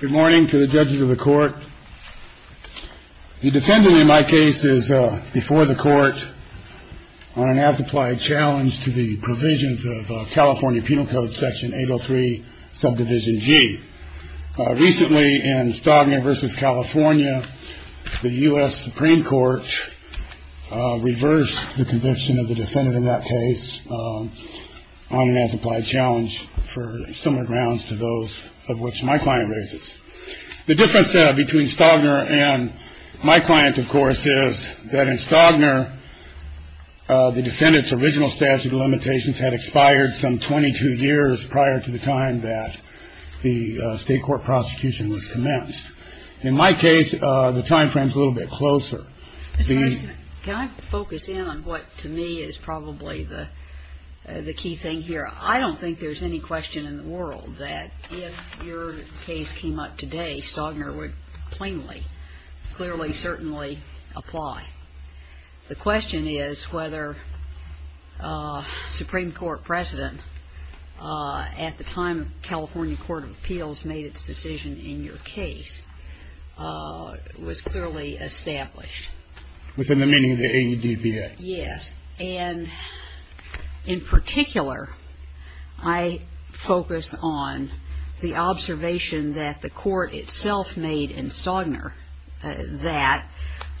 Good morning to the judges of the court. The defendant in my case is before the court on an as-applied challenge to the provisions of California Penal Code Section 803, Subdivision G. Recently, in Stagner v. California, the U.S. Supreme Court reversed the conviction of the defendant in that case on an as-applied challenge for similar grounds to those of which my client raises. The difference between Stagner and my client, of course, is that in Stagner, the defendant's original statute of limitations had expired some 22 years prior to the time that the State court prosecution was commenced. In my case, the time frame is a little bit closer. Mr. President, can I focus in on what, to me, is probably the key thing here? I don't think there's any question in the world that if your case came up today, Stagner would plainly, clearly, certainly apply. The question is whether Supreme Court precedent at the time California Court of Appeals made its decision in your case was clearly established. Within the meaning of the AEDBA. Yes. And in particular, I focus on the observation that the court itself made in Stagner that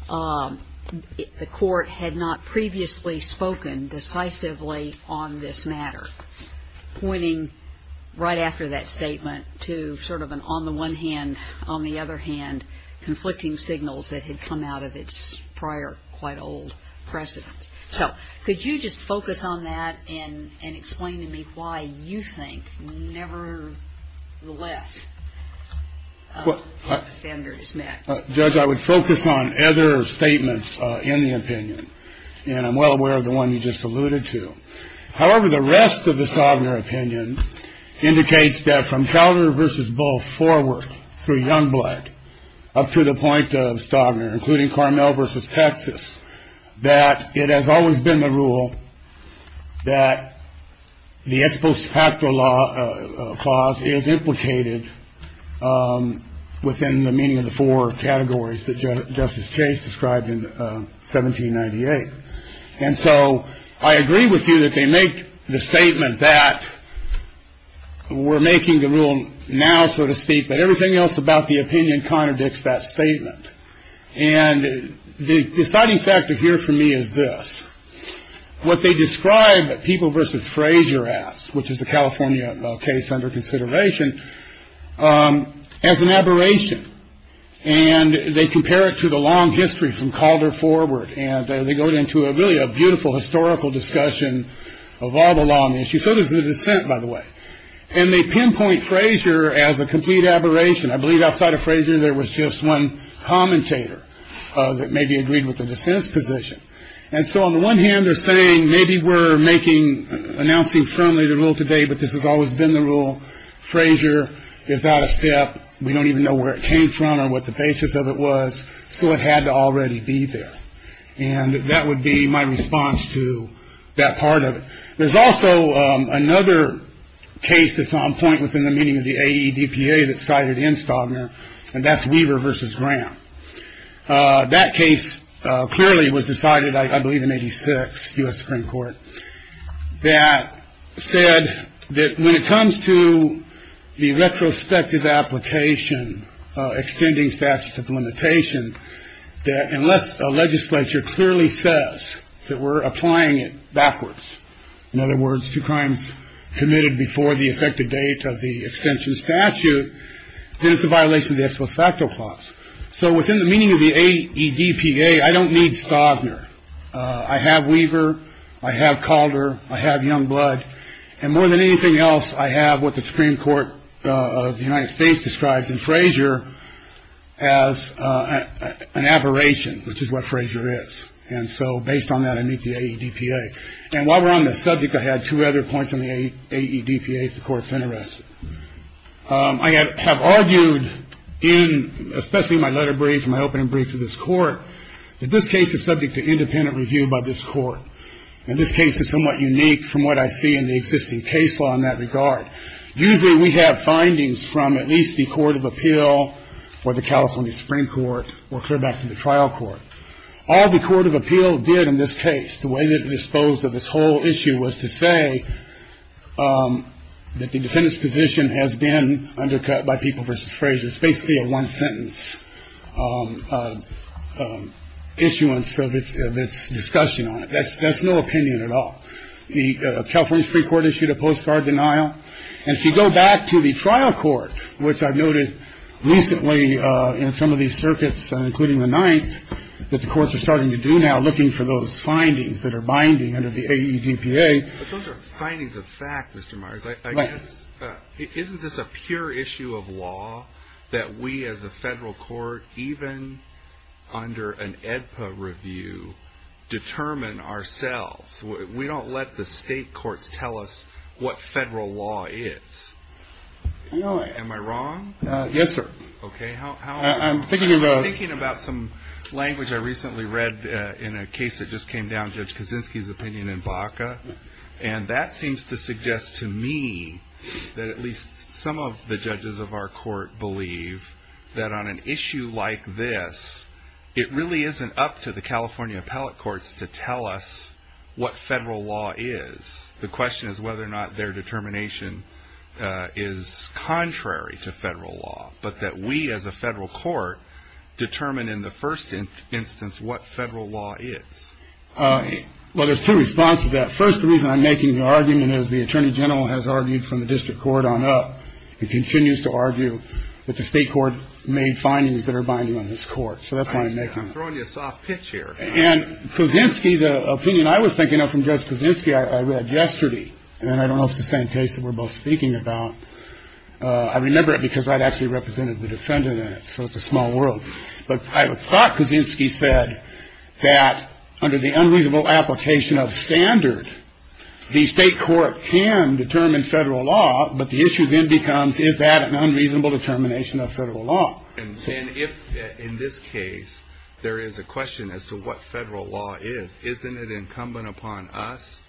the court had not previously spoken decisively on this matter. And I'm concerned that the court had not previously spoken decisively on this matter. And I'm concerned that the court had not, in fact, pointed right after that statement to sort of an on-the-one-hand, on-the-other-hand, the Stagner opinion indicates that from Calder versus Bull forward through Youngblood up to the point of Stagner, including Carmel versus Texas, that it has always been the rule that the ex post facto law clause is implicated within the meaning of the four categories that Justice Chase described in 1798. And so I agree with you that they make the statement that we're making the rule now, so to speak. But everything else about the opinion contradicts that statement. And the deciding factor here for me is this. What they describe people versus Frazier as, which is the California case under consideration as an aberration. And they compare it to the long history from Calder forward, and they go into a really a beautiful historical discussion of all the long issues. So does the dissent, by the way. And they pinpoint Frazier as a complete aberration. I believe outside of Frazier there was just one commentator that maybe agreed with the dissent's position. And so on the one hand, they're saying maybe we're making announcing firmly the rule today, but this has always been the rule. Frazier is out of step. We don't even know where it came from or what the basis of it was. So it had to already be there. And that would be my response to that part of it. There's also another case that's on point within the meaning of the AEDPA that cited in Stagner, and that's Weaver versus Graham. That case clearly was decided, I believe, in 86 U.S. Supreme Court that said that when it comes to the retrospective application, extending statutes of limitation that unless a legislature clearly says that we're applying it backwards. In other words, two crimes committed before the effective date of the extension statute, then it's a violation of the ex post facto clause. So within the meaning of the AEDPA, I don't need Stagner. I have Weaver. I have Calder. I have Youngblood. And more than anything else, I have what the Supreme Court of the United States describes in Frazier as an aberration, which is what Frazier is. And so based on that, I meet the AEDPA. And while we're on the subject, I had two other points on the AEDPA. One of them is that the Supreme Court of the United States does not have the authority to determine whether or not a case is subject to independent review by the Supreme Court of the United States if the court is unarrested. I have argued in especially my letter brief, my opening brief to this Court, that this case is subject to independent review by this Court. And this case is somewhat unique from what I see in the existing case law in that regard. Usually we have findings from at least the Court of Appeal or the California Supreme Court or clear back to the trial court. All the Court of Appeal did in this case, the way that it disposed of this whole issue, was to say that the defendant's position has been undercut by people versus Frazier. It's basically a one sentence issuance of its discussion on it. That's no opinion at all. The California Supreme Court issued a postcard denial. And if you go back to the trial court, which I've noted recently in some of these circuits, including the ninth, that the courts are starting to do now, looking for those findings that are binding under the AEDPA. But those are findings of fact, Mr. Myers. Isn't this a pure issue of law that we as a federal court, even under an AEDPA review, determine ourselves? We don't let the state courts tell us what federal law is. Am I wrong? Yes, sir. Okay. I'm thinking about some language I recently read in a case that just came down, Judge Kaczynski's opinion in Baca. And that seems to suggest to me that at least some of the judges of our court believe that on an issue like this, it really isn't up to the California appellate courts to tell us what federal law is. The question is whether or not their determination is contrary to federal law, but that we as a federal court determine in the first instance what federal law is. Well, there's two responses to that. First, the reason I'm making the argument is the attorney general has argued from the district court on up. He continues to argue that the state court made findings that are binding on this court. So that's why I'm making it. I'm throwing you a soft pitch here. And Kaczynski, the opinion I was thinking of from Judge Kaczynski I read yesterday. And I don't know if it's the same case that we're both speaking about. I remember it because I'd actually represented the defendant in it, so it's a small world. But I thought Kaczynski said that under the unreasonable application of standard, the state court can determine federal law, but the issue then becomes, is that an unreasonable determination of federal law? And if in this case there is a question as to what federal law is, isn't it incumbent upon us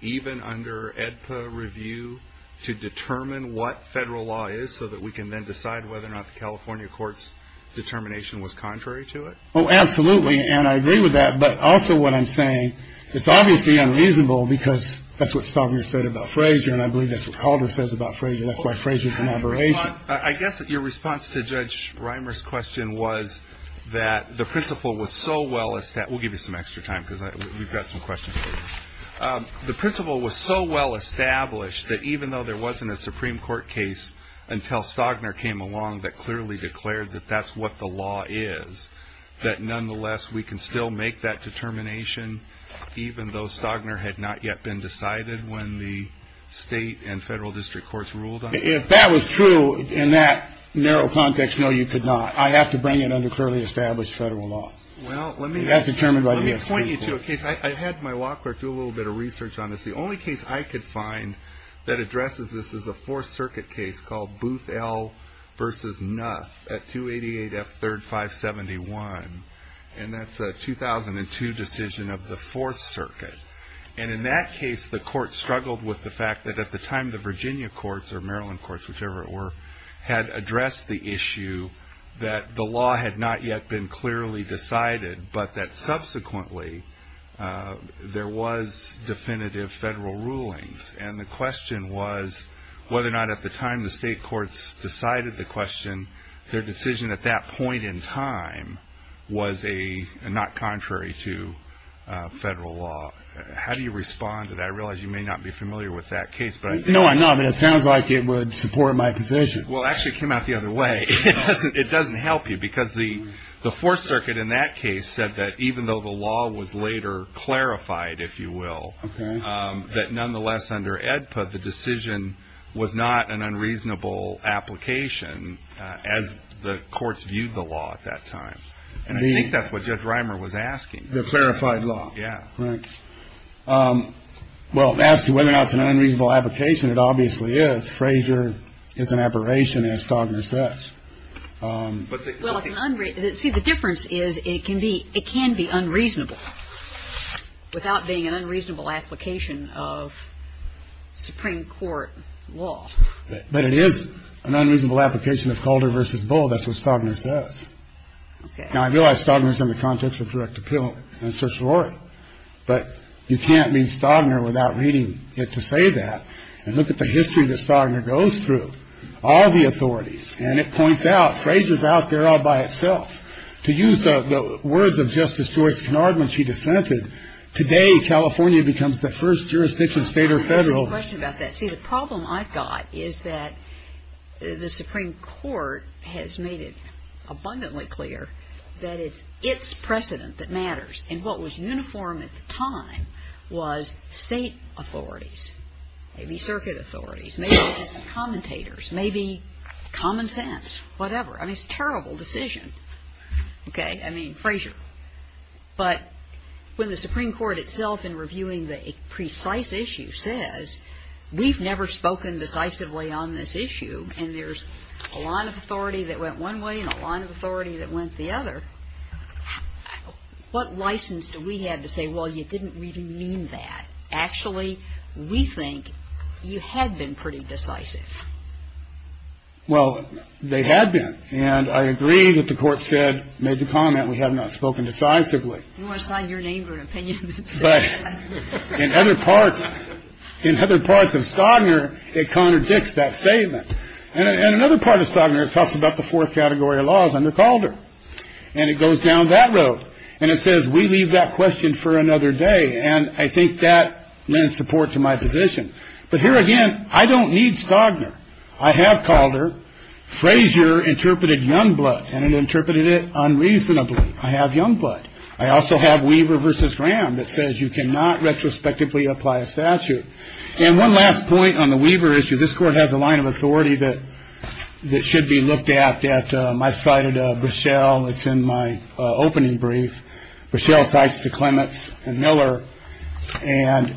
even under AEDPA review to determine what federal law is so that we can then decide whether or not the California court's determination was contrary to it? Oh, absolutely. And I agree with that. But also what I'm saying, it's obviously unreasonable because that's what Stallgren said about Frazier, and I believe that's what Calder says about Frazier. That's why Frazier's an aberration. I guess your response to Judge Reimer's question was that the principle was so well established. We'll give you some extra time because we've got some questions. The principle was so well established that even though there wasn't a Supreme Court case until Stallgren came along that clearly declared that that's what the law is, that nonetheless we can still make that determination even though Stallgren had not yet been decided when the state and federal district courts ruled on it? If that was true in that narrow context, no, you could not. I have to bring it under clearly established federal law. You have to determine by the Supreme Court. Let me point you to a case. I had my law clerk do a little bit of research on this. The only case I could find that addresses this is a Fourth Circuit case called Boothell v. Nuff at 288 F. 3rd, 571, and that's a 2002 decision of the Fourth Circuit. And in that case, the court struggled with the fact that at the time the Virginia courts or Maryland courts, whichever it were, had addressed the issue that the law had not yet been clearly decided but that subsequently there was definitive federal rulings. And the question was whether or not at the time the state courts decided the question, their decision at that point in time was not contrary to federal law. How do you respond to that? I realize you may not be familiar with that case. No, I'm not, but it sounds like it would support my position. Well, it actually came out the other way. It doesn't help you because the Fourth Circuit in that case said that even though the law was later clarified, if you will, that nonetheless under AEDPA the decision was not an unreasonable application as the courts viewed the law at that time. And I think that's what Judge Reimer was asking. The clarified law. Yeah. Right. Well, as to whether or not it's an unreasonable application, it obviously is. Frazier is an aberration, as Stagner says. Well, it's an unreasonable. See, the difference is it can be unreasonable without being an unreasonable application of Supreme Court law. But it is an unreasonable application of Calder v. Bull. That's what Stagner says. Okay. Now, I realize Stagner is in the context of direct appeal and social order. But you can't mean Stagner without reading it to say that. And look at the history that Stagner goes through. All the authorities. And it points out, Frazier's out there all by itself. To use the words of Justice George Kennard when she dissented, today California becomes the first jurisdiction, state or federal. See, the problem I've got is that the Supreme Court has made it abundantly clear that it's its precedent that matters. And what was uniform at the time was state authorities, maybe circuit authorities, maybe commentators, maybe common sense, whatever. I mean, it's a terrible decision. Okay. I mean, Frazier. But when the Supreme Court itself in reviewing the precise issue says, we've never spoken decisively on this issue, and there's a line of authority that went one way and a line of authority that went the other. What license do we have to say, well, you didn't really mean that? Actually, we think you had been pretty decisive. Well, they had been. And I agree that the court said, made the comment we have not spoken decisively. You want to sign your name for an opinion? But in other parts, in other parts of Stagner, it contradicts that statement. And another part of Stagner talks about the fourth category of laws under Calder. And it goes down that road. And it says, we leave that question for another day. And I think that lends support to my position. But here again, I don't need Stagner. I have Calder. Frazier interpreted Youngblood, and it interpreted it unreasonably. I have Youngblood. I also have Weaver v. Ram that says you cannot retrospectively apply a statute. And one last point on the Weaver issue. This Court has a line of authority that should be looked at. I cited Brichelle. It's in my opening brief. Brichelle cites the Clements and Miller. And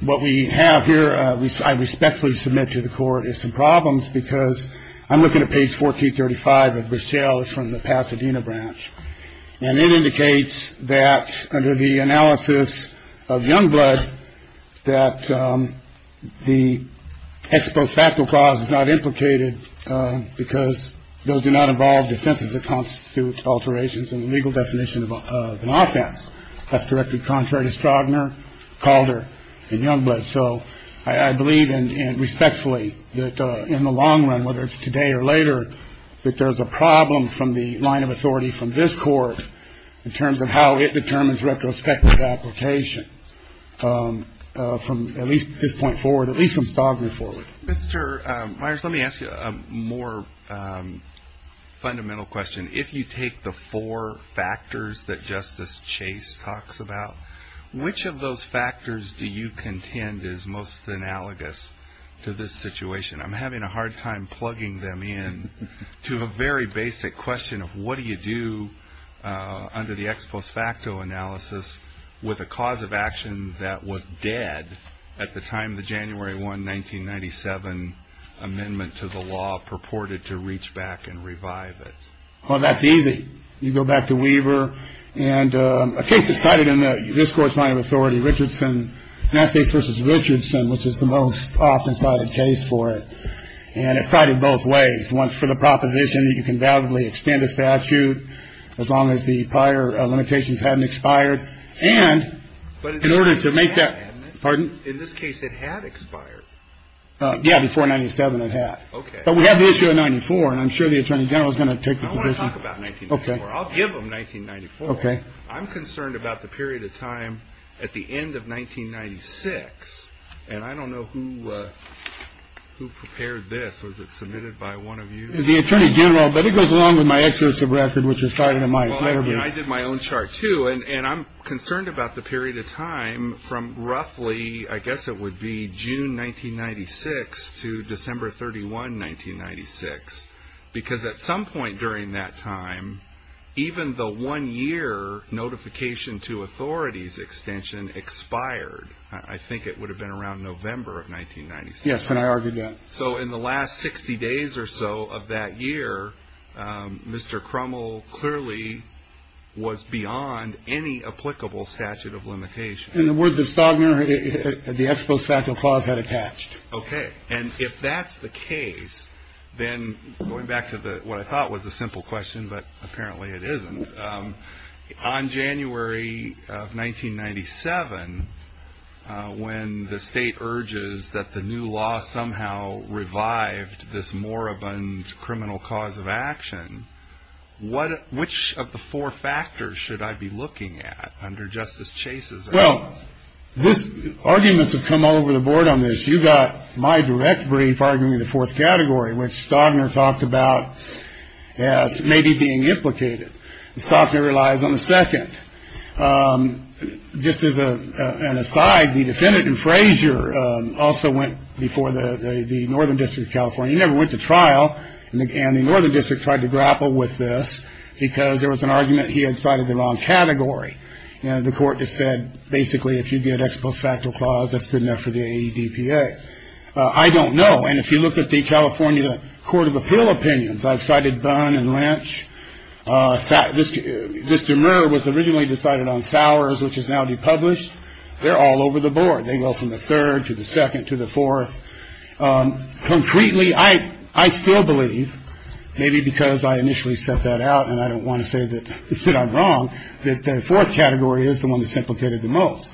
what we have here, I respectfully submit to the Court, is some problems, because I'm looking at page 1435 of Brichelle. It's from the Pasadena branch. And it indicates that under the analysis of Youngblood, that the ex post facto clause is not implicated, because those do not involve defenses that constitute alterations in the legal definition of an offense. That's directly contrary to Stagner, Calder, and Youngblood. So I believe, respectfully, that in the long run, whether it's today or later, that there's a problem from the line of authority from this Court in terms of how it determines retrospective application, from at least this point forward, at least from Stagner forward. Mr. Myers, let me ask you a more fundamental question. If you take the four factors that Justice Chase talks about, which of those factors do you contend is most analogous to this situation? I'm having a hard time plugging them in to a very basic question of what do you do under the ex post facto analysis with a cause of action that was dead at the time the January 1, 1997, amendment to the law purported to reach back and revive it? Well, that's easy. You go back to Weaver and a case that's cited in this Court's line of authority, Richardson, Massachusetts v. Richardson, which is the most often cited case for it. And it's cited both ways. Once for the proposition that you can validly extend a statute as long as the prior limitations hadn't expired. And in order to make that pardon. In this case, it had expired. Yeah. Before 97, it had. OK. But we have the issue of 94. And I'm sure the attorney general is going to take the position. OK. I'll give them 1994. OK. I'm concerned about the period of time at the end of 1996. And I don't know who who prepared this. Was it submitted by one of you? The attorney general. But it goes along with my exclusive record, which is cited in my own chart, too. And I'm concerned about the period of time from roughly, I guess it would be June 1996 to December 31, 1996. Because at some point during that time, even the one year notification to authorities extension expired. I think it would have been around November of 1996. Yes. And I argued that. So in the last 60 days or so of that year, Mr. Crummell clearly was beyond any applicable statute of limitation. And the words of Stagner, the ex post facto clause had attached. OK. And if that's the case, then going back to what I thought was a simple question, but apparently it isn't. On January of 1997, when the state urges that the new law somehow revived this moribund criminal cause of action. What which of the four factors should I be looking at under Justice Chase's? Well, this arguments have come all over the board on this. You got my direct brief arguing the fourth category, which Stagner talked about as maybe being implicated. The stock that relies on the second. Just as an aside. The defendant and Frazier also went before the northern district of California. He never went to trial. And the northern district tried to grapple with this because there was an argument he had cited the wrong category. And the court just said, basically, if you get ex post facto clause, that's good enough for the DPA. I don't know. And if you look at the California Court of Appeal opinions, I've cited Dunn and Lynch. So this this demer was originally decided on Sowers, which is now depublished. They're all over the board. They go from the third to the second to the fourth. Concretely, I I still believe maybe because I initially set that out and I don't want to say that I'm wrong, that the fourth category is the one that's implicated the most.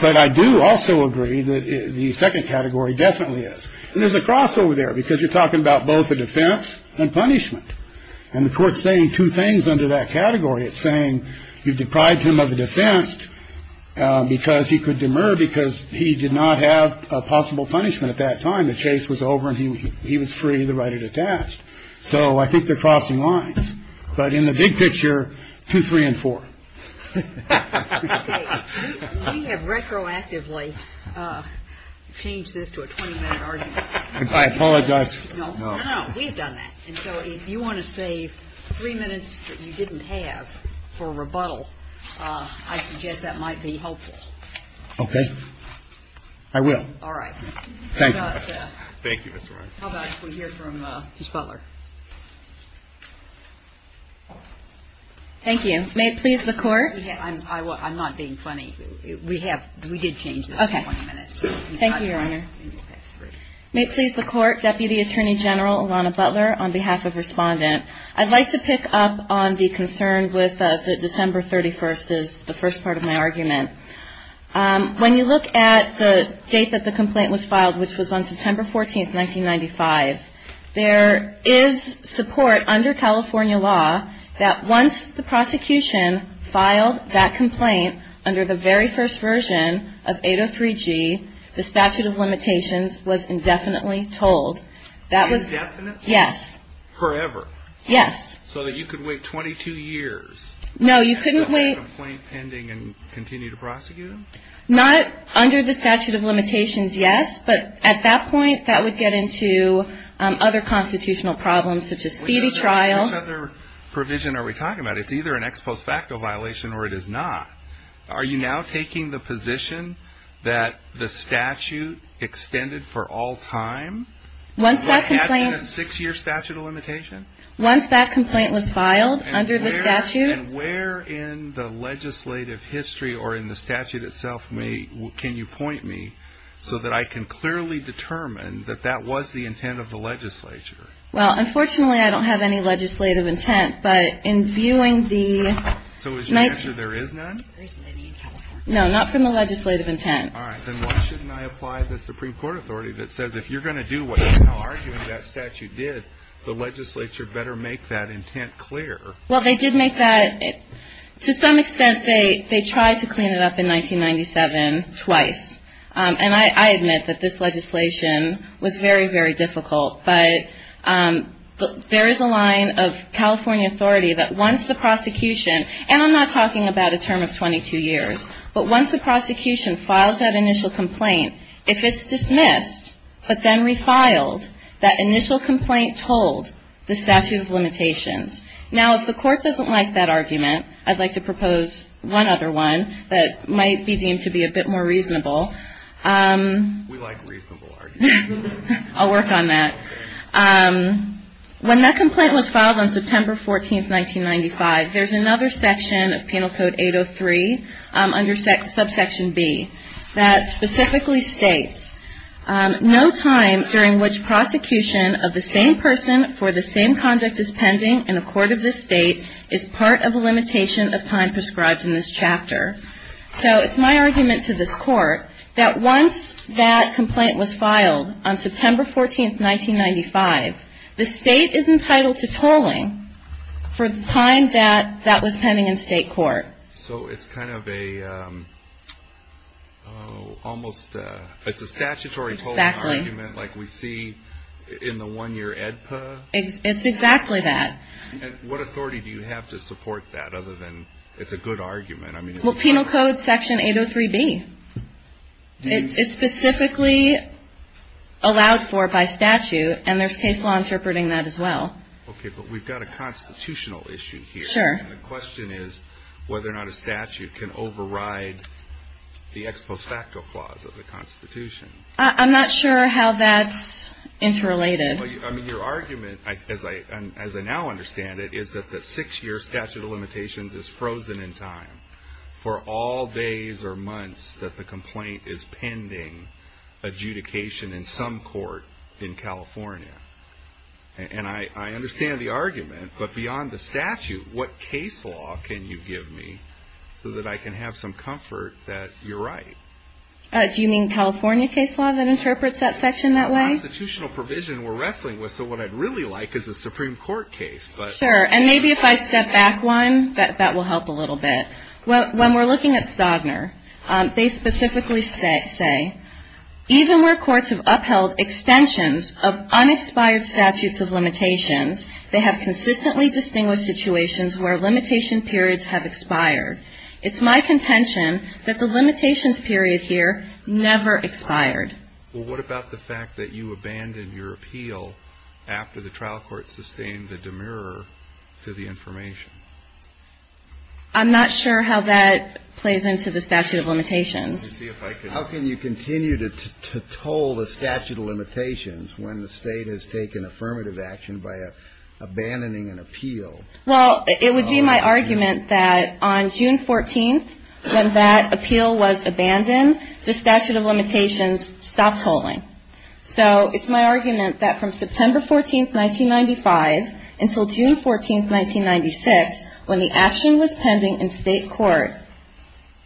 But I do also agree that the second category definitely is. And there's a cross over there because you're talking about both a defense and punishment. And the court's saying two things under that category. It's saying you've deprived him of a defense because he could demur, because he did not have a possible punishment at that time. The chase was over and he was free. The right had attached. So I think they're crossing lines. But in the big picture, two, three and four. We have retroactively changed this to a 20 minute argument. I apologize. No, no, no. We've done that. And so if you want to save three minutes that you didn't have for rebuttal, I suggest that might be helpful. OK. I will. All right. Thank you. Thank you. How about we hear from Ms. Butler. Thank you. May it please the court. I'm not being funny. We have we did change. OK. Thank you, Your Honor. May it please the court. Deputy Attorney General Lana Butler, on behalf of respondent. I'd like to pick up on the concern with the December 31st is the first part of my argument. When you look at the date that the complaint was filed, which was on September 14th, 1995, there is support under California law that once the prosecution filed that complaint under the very first version of 803 G, the statute of limitations was indefinitely told. That was. Yes. Forever. Yes. So that you could wait 22 years. No, you couldn't wait. Ending and continue to prosecute. Not under the statute of limitations. Yes. But at that point, that would get into other constitutional problems such as speedy trial. Other provision are we talking about? It's either an ex post facto violation or it is not. Are you now taking the position that the statute extended for all time? Once I complain, a six year statute of limitation. Once that complaint was filed under the statute. And where in the legislative history or in the statute itself? May. Can you point me so that I can clearly determine that that was the intent of the legislature? Well, unfortunately, I don't have any legislative intent, but in viewing the. So as you mentioned, there is none. No, not from the legislative intent. All right. Then why shouldn't I apply the Supreme Court authority that says if you're going to do what you are doing, that statute did the legislature better make that intent clear? Well, they did make that to some extent. They they tried to clean it up in 1997 twice. And I admit that this legislation was very, very difficult. But there is a line of California authority that wants the prosecution. And I'm not talking about a term of 22 years. But once the prosecution files that initial complaint, if it's dismissed, but then refiled that initial complaint told the statute of limitations. Now, if the court doesn't like that argument, I'd like to propose one other one that might be deemed to be a bit more reasonable. We like reasonable arguments. I'll work on that. When that complaint was filed on September 14th, 1995, there's another section of Penal Code 803 under subsection B that specifically states, no time during which prosecution of the same person for the same conduct is pending in a court of this state So it's my argument to this court that once that complaint was filed on September 14th, 1995, the state is entitled to tolling for the time that that was pending in state court. So it's kind of a almost it's a statutory tolling argument like we see in the one year EDPA? It's exactly that. And what authority do you have to support that other than it's a good argument? Well, Penal Code section 803B. It's specifically allowed for by statute, and there's case law interpreting that as well. Okay, but we've got a constitutional issue here. Sure. The question is whether or not a statute can override the ex post facto clause of the Constitution. I'm not sure how that's interrelated. I mean, your argument, as I now understand it, is that the six year statute of limitations is frozen in time for all days or months that the complaint is pending adjudication in some court in California. And I understand the argument, but beyond the statute, what case law can you give me so that I can have some comfort that you're right? Do you mean California case law that interprets that section that way? It's a constitutional provision we're wrestling with, so what I'd really like is a Supreme Court case. Sure. And maybe if I step back one, that will help a little bit. When we're looking at Stodner, they specifically say, even where courts have upheld extensions of unexpired statutes of limitations, they have consistently distinguished situations where limitation periods have expired. It's my contention that the limitations period here never expired. Well, what about the fact that you abandoned your appeal after the trial court sustained a demur to the information? I'm not sure how that plays into the statute of limitations. How can you continue to toll the statute of limitations when the state has taken affirmative action by abandoning an appeal? Well, it would be my argument that on June 14th, when that appeal was abandoned, the statute of limitations stopped tolling. So it's my argument that from September 14th, 1995, until June 14th, 1996, when the action was pending in state court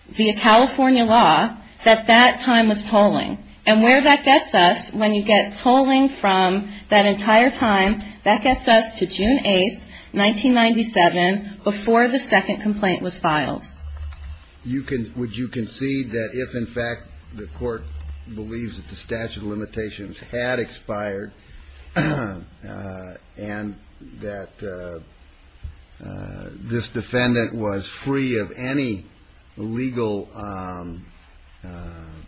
via California law, that that time was tolling. And where that gets us, when you get tolling from that entire time, that gets us to June 8th, 1997, before the second complaint was filed. Would you concede that if, in fact, the court believes that the statute of limitations had expired and that this defendant was free of any legal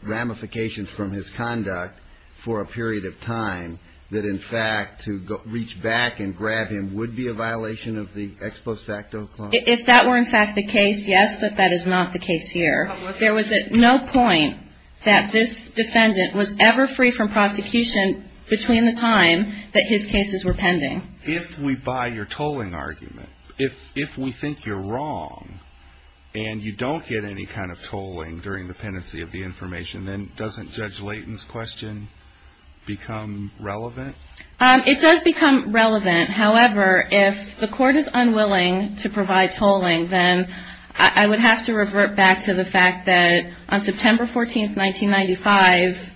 ramifications from his conduct for a period of time, that, in fact, to reach back and grab him would be a violation of the ex post facto clause? If that were, in fact, the case, yes, but that is not the case here. There was at no point that this defendant was ever free from prosecution between the time that his cases were pending. If we buy your tolling argument, if we think you're wrong and you don't get any kind of tolling during the pendency of the information, then doesn't Judge Layton's question become relevant? It does become relevant. However, if the court is unwilling to provide tolling, then I would have to revert back to the fact that on September 14th, 1995,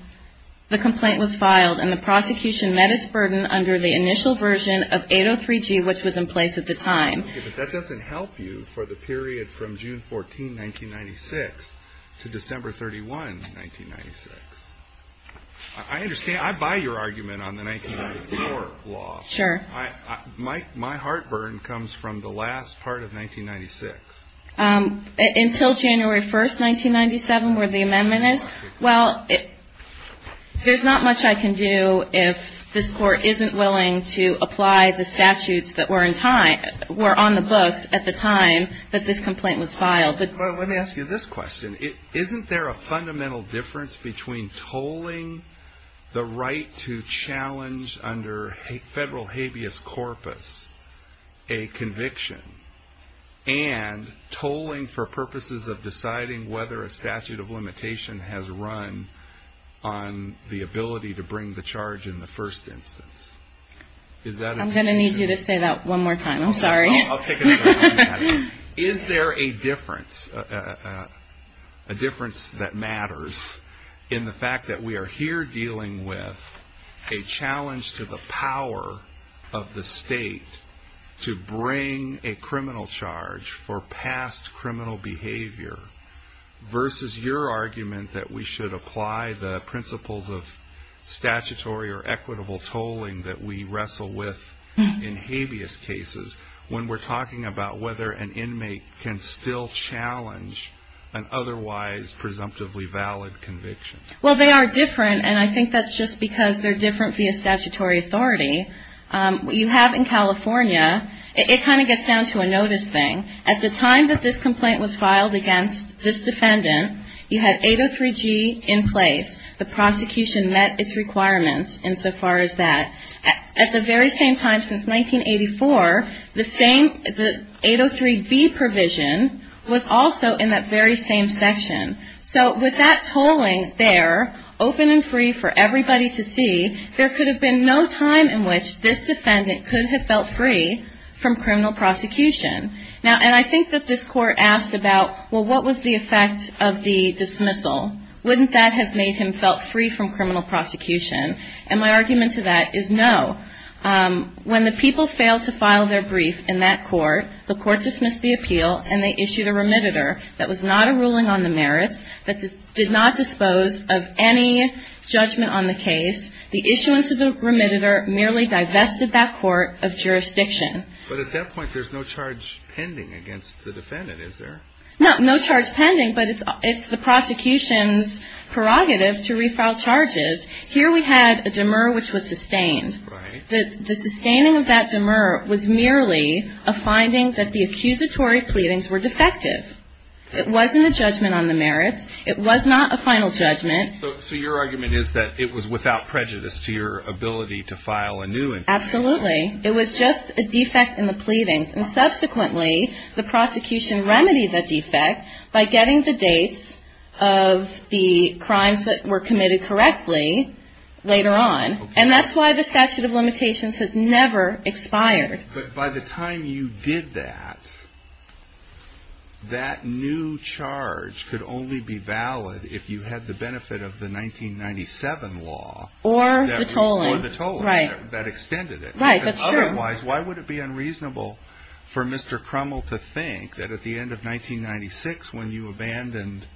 the complaint was filed and the prosecution met its burden under the initial version of 803G, which was in place at the time. Okay, but that doesn't help you for the period from June 14th, 1996, to December 31st, 1996. I understand. I buy your argument on the 1994 law. Sure. My heartburn comes from the last part of 1996. Until January 1st, 1997, where the amendment is? Well, there's not much I can do if this court isn't willing to apply the statutes that were on the books at the time that this complaint was filed. Let me ask you this question. Isn't there a fundamental difference between tolling the right to challenge under federal habeas corpus a conviction and tolling for purposes of deciding whether a statute of limitation has run on the ability to bring the charge in the first instance? I'm going to need you to say that one more time. I'm sorry. I'll take another one. Is there a difference that matters in the fact that we are here dealing with a challenge to the power of the state to bring a criminal charge for past criminal behavior versus your argument that we should apply the principles of statutory or equitable tolling that we wrestle with in habeas cases when we're talking about whether an inmate can still challenge an otherwise presumptively valid conviction? Well, they are different, and I think that's just because they're different via statutory authority. What you have in California, it kind of gets down to a notice thing. At the time that this complaint was filed against this defendant, you had 803G in place. The prosecution met its requirements insofar as that. At the very same time since 1984, the 803B provision was also in that very same section. So with that tolling there open and free for everybody to see, there could have been no time in which this defendant could have felt free from criminal prosecution. And I think that this court asked about, well, what was the effect of the dismissal? Wouldn't that have made him felt free from criminal prosecution? And my argument to that is no. When the people failed to file their brief in that court, the court dismissed the appeal, and they issued a remediator that was not a ruling on the merits, that did not dispose of any judgment on the case. The issuance of the remediator merely divested that court of jurisdiction. But at that point, there's no charge pending against the defendant, is there? No, no charge pending, but it's the prosecution's prerogative to refile charges. Here we had a demur, which was sustained. Right. The sustaining of that demur was merely a finding that the accusatory pleadings were defective. It wasn't a judgment on the merits. It was not a final judgment. So your argument is that it was without prejudice to your ability to file a new indictment. Absolutely. It was just a defect in the pleadings. And subsequently, the prosecution remedied that defect by getting the dates of the crimes that were committed correctly later on. And that's why the statute of limitations has never expired. But by the time you did that, that new charge could only be valid if you had the benefit of the 1997 law. Or the tolling. Or the tolling. Right. That extended it. Right, that's true. Otherwise, why would it be unreasonable for Mr. Crummell to think that at the end of 1996 when you abandoned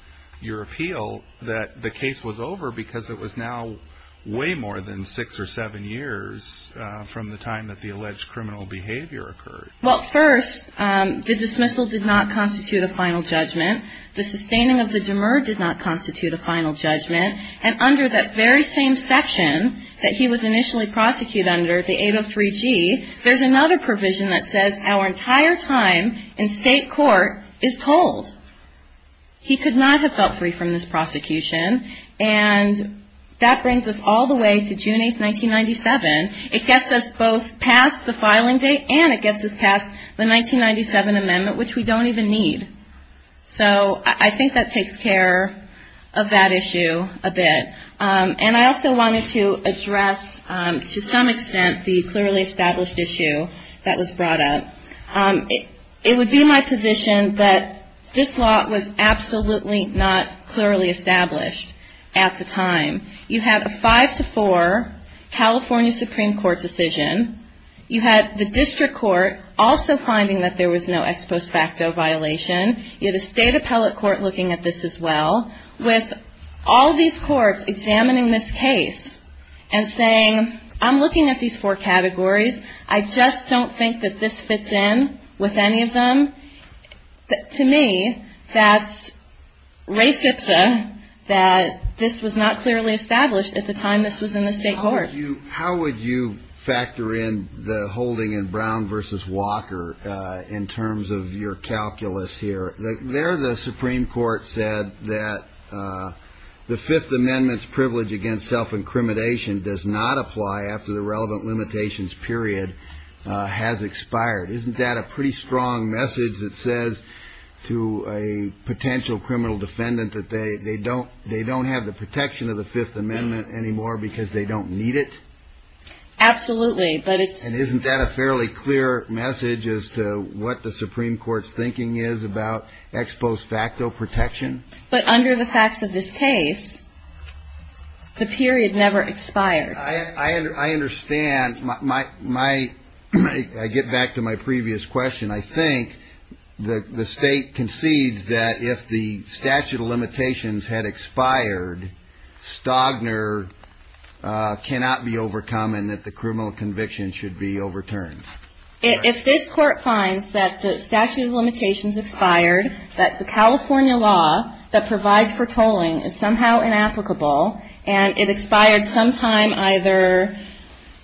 your appeal, that the case was over because it was now way more than six or seven years from the time that the alleged criminal behavior occurred? Well, first, the dismissal did not constitute a final judgment. The sustaining of the demur did not constitute a final judgment. And under that very same section that he was initially prosecuted under, the 803G, there's another provision that says our entire time in state court is tolled. He could not have felt free from this prosecution. And that brings us all the way to June 8, 1997. It gets us both past the filing date and it gets us past the 1997 amendment, which we don't even need. So I think that takes care of that issue a bit. And I also wanted to address, to some extent, the clearly established issue that was brought up. It would be my position that this law was absolutely not clearly established at the time. You have a 5-4 California Supreme Court decision. You had the district court also finding that there was no ex post facto violation. You had a state appellate court looking at this as well. With all these courts examining this case and saying, I'm looking at these four categories. I just don't think that this fits in with any of them. To me, that's res ipsa, that this was not clearly established at the time this was in the state courts. How would you factor in the holding in Brown versus Walker in terms of your calculus here? There the Supreme Court said that the Fifth Amendment's privilege against self-incrimination does not apply after the relevant limitations period has expired. Isn't that a pretty strong message that says to a potential criminal defendant that they don't have the protection of the Fifth Amendment anymore because they don't need it? Absolutely. And isn't that a fairly clear message as to what the Supreme Court's thinking is about ex post facto protection? But under the facts of this case, the period never expired. I get back to my previous question. I think the state concedes that if the statute of limitations had expired, Stagner cannot be overcome and that the criminal conviction should be overturned. If this court finds that the statute of limitations expired, that the California law that provides for tolling is somehow inapplicable and it expired sometime either,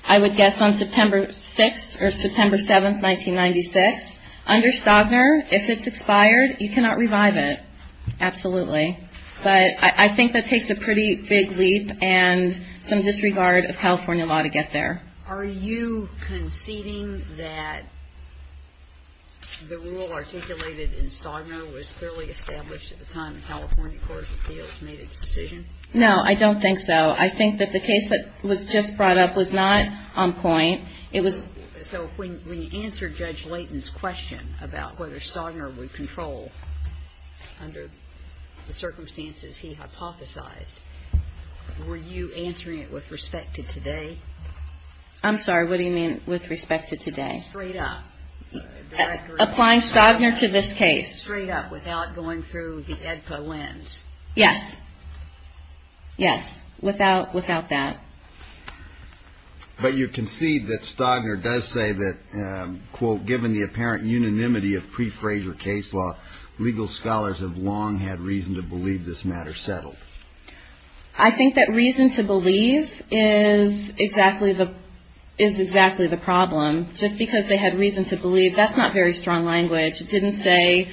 I would guess, on September 6th or September 7th, 1996, under Stagner, if it's expired, you cannot revive it. Absolutely. But I think that takes a pretty big leap and some disregard of California law to get there. Are you conceding that the rule articulated in Stagner was clearly established at the time the California Court of Appeals made its decision? No, I don't think so. I think that the case that was just brought up was not on point. So when you answered Judge Layton's question about whether Stagner would control under the circumstances he hypothesized, were you answering it with respect to today? I'm sorry, what do you mean with respect to today? Straight up. Applying Stagner to this case. Straight up without going through the EDPA lens. Yes. Yes. Without that. But you concede that Stagner does say that, quote, given the apparent unanimity of pre-Fraser case law, legal scholars have long had reason to believe this matter settled. I think that reason to believe is exactly the problem. Just because they had reason to believe, that's not very strong language. It didn't say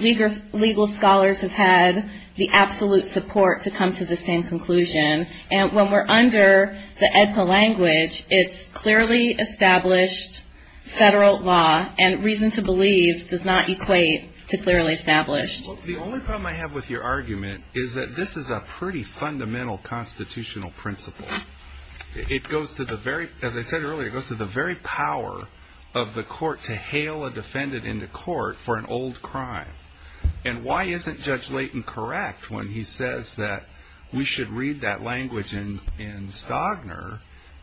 legal scholars have had the absolute support to come to the same conclusion. And when we're under the EDPA language, it's clearly established federal law, and reason to believe does not equate to clearly established. The only problem I have with your argument is that this is a pretty fundamental constitutional principle. It goes to the very, as I said earlier, it goes to the very power of the court to hail a defendant into court for an old crime. And why isn't Judge Layton correct when he says that we should read that language in Stagner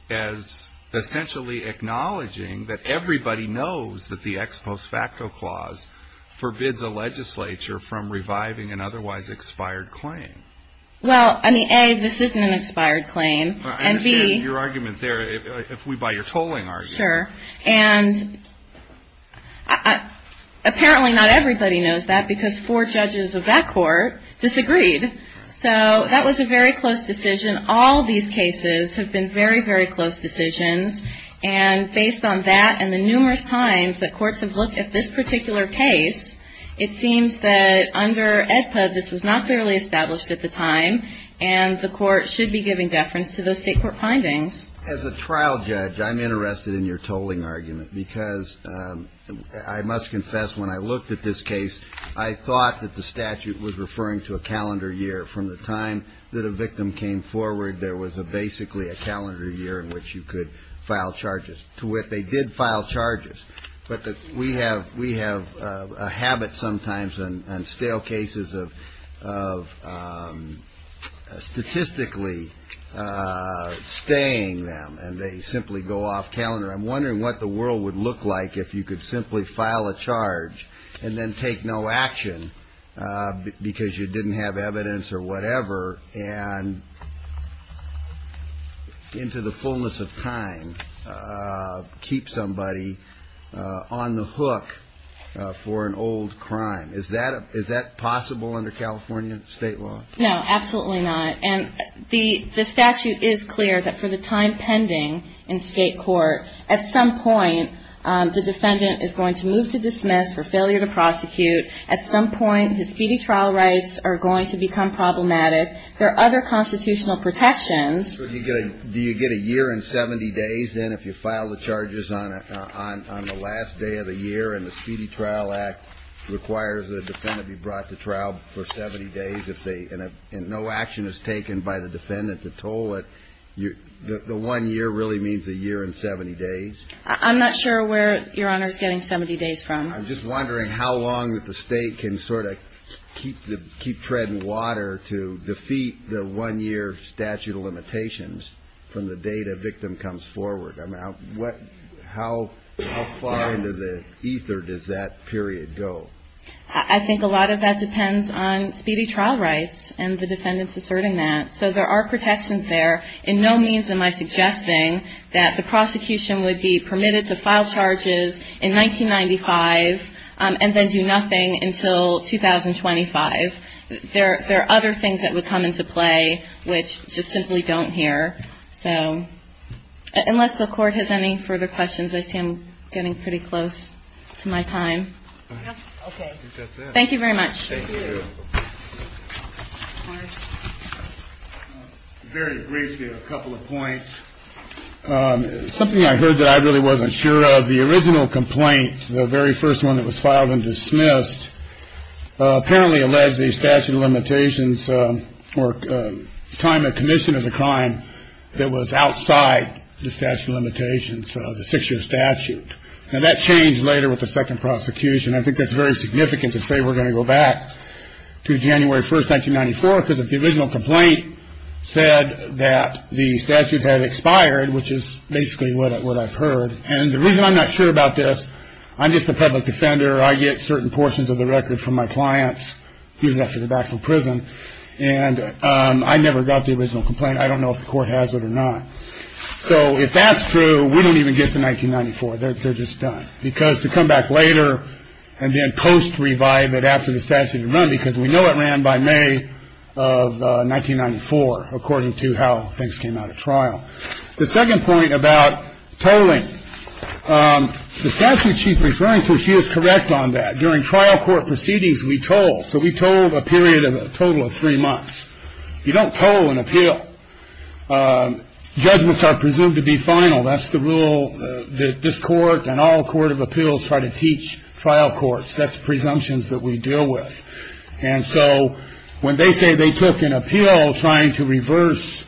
as essentially acknowledging that everybody knows that the ex post facto clause forbids a legislature from reviving an otherwise expired claim. Well, I mean, A, this isn't an expired claim. I understand your argument there if we buy your tolling argument. Sure. And apparently not everybody knows that because four judges of that court disagreed. So that was a very close decision. All these cases have been very, very close decisions. And based on that and the numerous times that courts have looked at this particular case, it seems that under EDPA, this was not clearly established at the time, and the court should be giving deference to those state court findings. As a trial judge, I'm interested in your tolling argument because I must confess when I looked at this case, I thought that the statute was referring to a calendar year. From the time that a victim came forward, there was basically a calendar year in which you could file charges. To where they did file charges. But we have a habit sometimes on stale cases of statistically staying them, and they simply go off calendar. I'm wondering what the world would look like if you could simply file a charge and then take no action because you didn't have evidence or whatever, and into the fullness of time keep somebody on the hook for an old crime. Is that possible under California state law? No, absolutely not. And the statute is clear that for the time pending in state court, at some point the defendant is going to move to dismiss for failure to prosecute. At some point his speedy trial rights are going to become problematic. There are other constitutional protections. So do you get a year and 70 days then if you file the charges on the last day of the year and the Speedy Trial Act requires the defendant be brought to trial for 70 days and no action is taken by the defendant to toll it, the one year really means a year and 70 days? I'm not sure where Your Honor is getting 70 days from. I'm just wondering how long that the state can sort of keep treading water to defeat the one year statute of limitations from the date a victim comes forward. I mean, how far into the ether does that period go? I think a lot of that depends on speedy trial rights and the defendants asserting that. So there are protections there. In no means am I suggesting that the prosecution would be permitted to file charges in 1995 and then do nothing until 2025. There are other things that would come into play which just simply don't here. So unless the Court has any further questions, I see I'm getting pretty close to my time. Okay. Thank you very much. Very briefly, a couple of points. Something I heard that I really wasn't sure of, the original complaint, the very first one that was filed and dismissed apparently alleged the statute of limitations or time of commission as a crime that was outside the statute of limitations, the six year statute. And that changed later with the second prosecution. I think that's very significant to say we're going to go back to January 1st, 1994, because if the original complaint said that the statute had expired, which is basically what I've heard. And the reason I'm not sure about this, I'm just a public defender. I get certain portions of the record from my clients. He's after the back from prison. And I never got the original complaint. I don't know if the court has it or not. So if that's true, we don't even get to 1994. They're just done because to come back later and then post revive it after the statute run, because we know it ran by May of 1994, according to how things came out of trial. The second point about tolling the statute she's referring to, she is correct on that. During trial court proceedings, we told. So we told a period of a total of three months. You don't toll an appeal. Judgments are presumed to be final. That's the rule that this court and all court of appeals try to teach trial courts. That's presumptions that we deal with. And so when they say they took an appeal trying to reverse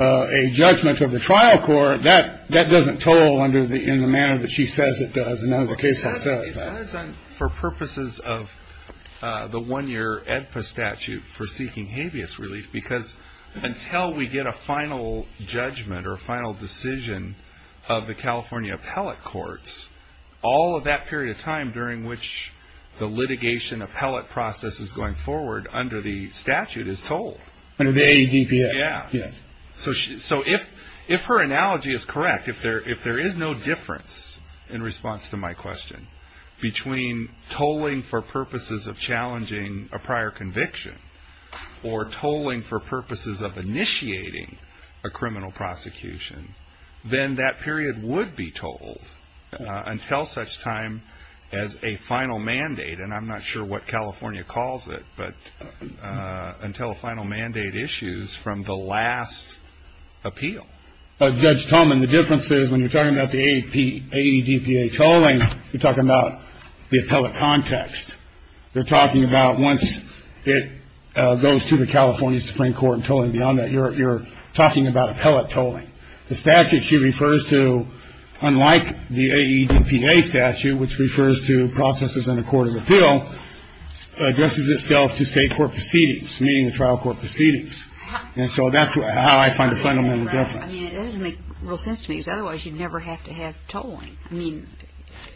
a judgment of the trial court, that that doesn't toll under the in the manner that she says it does. And for purposes of the one year statute for seeking habeas relief, because until we get a final judgment or final decision of the California appellate courts, all of that period of time during which the litigation appellate process is going forward under the statute is told. Yeah. So so if if her analogy is correct, if there if there is no difference in response to my question, between tolling for purposes of challenging a prior conviction or tolling for purposes of initiating a criminal prosecution, then that period would be told until such time as a final mandate. And I'm not sure what California calls it, but until a final mandate issues from the last appeal. Judge Tolman, the difference is when you're talking about the AP, AEDPA tolling, you're talking about the appellate context. You're talking about once it goes to the California Supreme Court and tolling beyond that. You're talking about appellate tolling. The statute she refers to, unlike the AEDPA statute, which refers to processes in a court of appeal, addresses itself to state court proceedings, meaning the trial court proceedings. And so that's how I find a fundamental difference. I mean, it doesn't make real sense to me, because otherwise you'd never have to have tolling. I mean,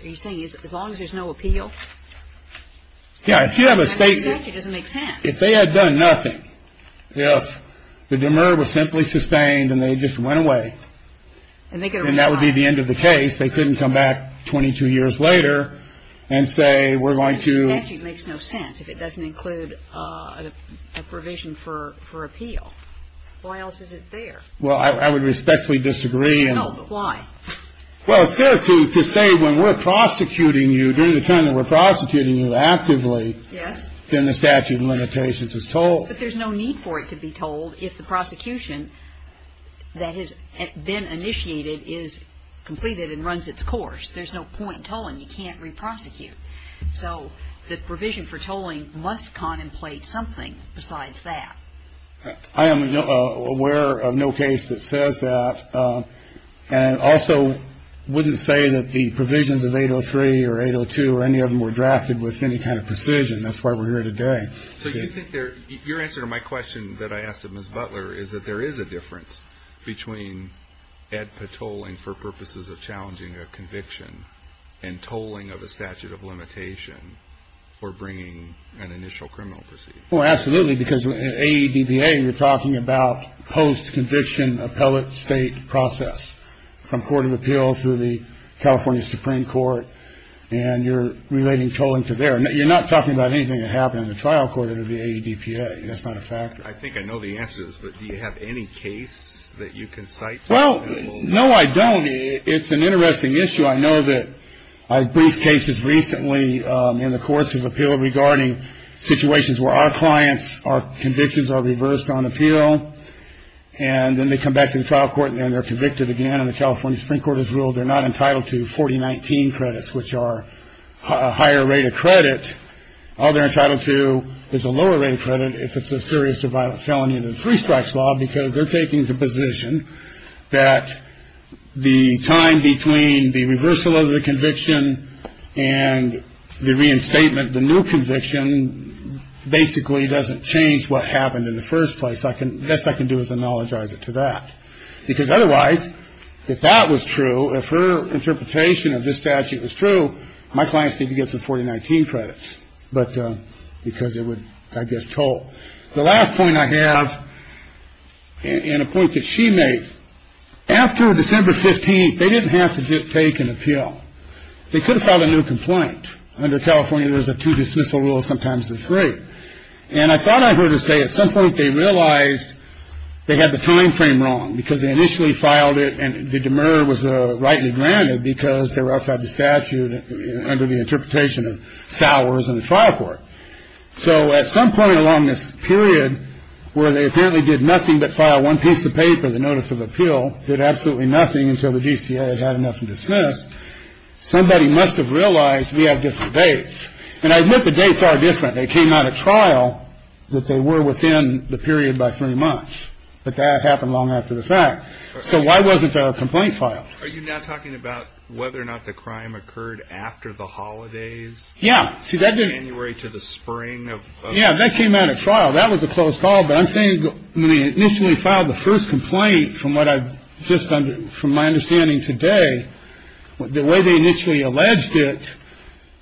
are you saying as long as there's no appeal? Yeah. If you have a state. It doesn't make sense. If they had done nothing, if the demur was simply sustained and they just went away. And that would be the end of the case. They couldn't come back 22 years later and say we're going to. The statute makes no sense if it doesn't include a provision for appeal. Why else is it there? Well, I would respectfully disagree. No, but why? Well, it's fair to say when we're prosecuting you during the time that we're prosecuting you actively. Yes. Then the statute of limitations is told. But there's no need for it to be told if the prosecution that has been initiated is completed and runs its course. There's no point in tolling. You can't re-prosecute. So the provision for tolling must contemplate something besides that. I am aware of no case that says that. And also wouldn't say that the provisions of 803 or 802 or any of them were drafted with any kind of precision. That's why we're here today. So your answer to my question that I asked of Ms. Butler is that there is a difference between ADPA tolling for purposes of challenging a conviction and tolling of a statute of limitation for bringing an initial criminal proceeding. Well, absolutely. Because in AEDPA, you're talking about post-conviction appellate state process from court of appeals to the California Supreme Court. And you're relating tolling to there. You're not talking about anything that happened in the trial court of the AEDPA. That's not a fact. I think I know the answers. But do you have any case that you can cite? Well, no, I don't. It's an interesting issue. I know that I briefed cases recently in the courts of appeal regarding situations where our clients, our convictions are reversed on appeal. And then they come back to the trial court and they're convicted again. And the California Supreme Court has ruled they're not entitled to 4019 credits, which are a higher rate of credit. All they're entitled to is a lower rate of credit if it's a serious or violent felony under the three strikes law because they're taking the position that the time between the reversal of the conviction and the reinstatement, the new conviction, basically doesn't change what happened in the first place. The best I can do is analogize it to that. Because otherwise, if that was true, if her interpretation of this statute was true, my clients need to get some 4019 credits because it would, I guess, toll. The last point I have and a point that she made, after December 15th, they didn't have to take an appeal. They could have filed a new complaint. Under California, there's a two-dismissal rule. Sometimes they're free. And I thought I heard her say at some point they realized they had the time frame wrong because they initially filed it and the demur was rightly granted because they were outside the statute under the interpretation of salaries in the trial court. So at some point along this period where they apparently did nothing but file one piece of paper, the notice of appeal did absolutely nothing until the DCA had enough to dismiss. Somebody must have realized we have different dates. And I admit the dates are different. They came out of trial that they were within the period by three months. But that happened long after the fact. So why wasn't a complaint filed? Are you now talking about whether or not the crime occurred after the holidays? Yeah. See, that didn't. January to the spring of. Yeah. That came out of trial. That was a close call. But I'm saying when they initially filed the first complaint, from what I've just done, from my understanding today, the way they initially alleged it,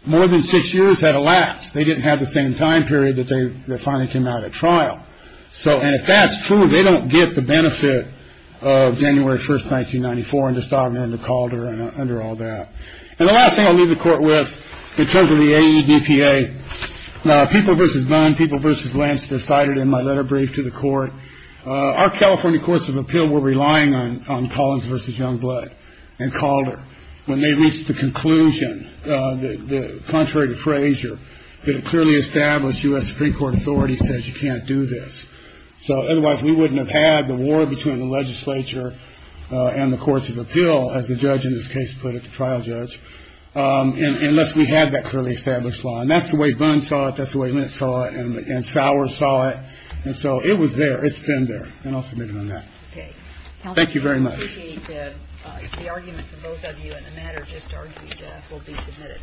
more than six years had elapsed. They didn't have the same time period that they finally came out of trial. So. And if that's true, they don't get the benefit of January 1st, 1994, under Stockner, under Calder and under all that. And the last thing I'll leave the court with in terms of the AEDPA. Now, people versus none. People versus Lance decided in my letter brief to the court. Our California courts of appeal were relying on Collins versus Youngblood and Calder when they reached the conclusion, contrary to Frazier, that a clearly established U.S. Supreme Court authority says you can't do this. So otherwise we wouldn't have had the war between the legislature and the courts of appeal, as the judge in this case put it, the trial judge, unless we had that clearly established law. And that's the way Boone saw it. That's the way Mint saw it. And Sauer saw it. And so it was there. It's been there. And I'll submit it on that. Okay. Thank you very much. I appreciate the argument from both of you, and the matter just argued will be submitted.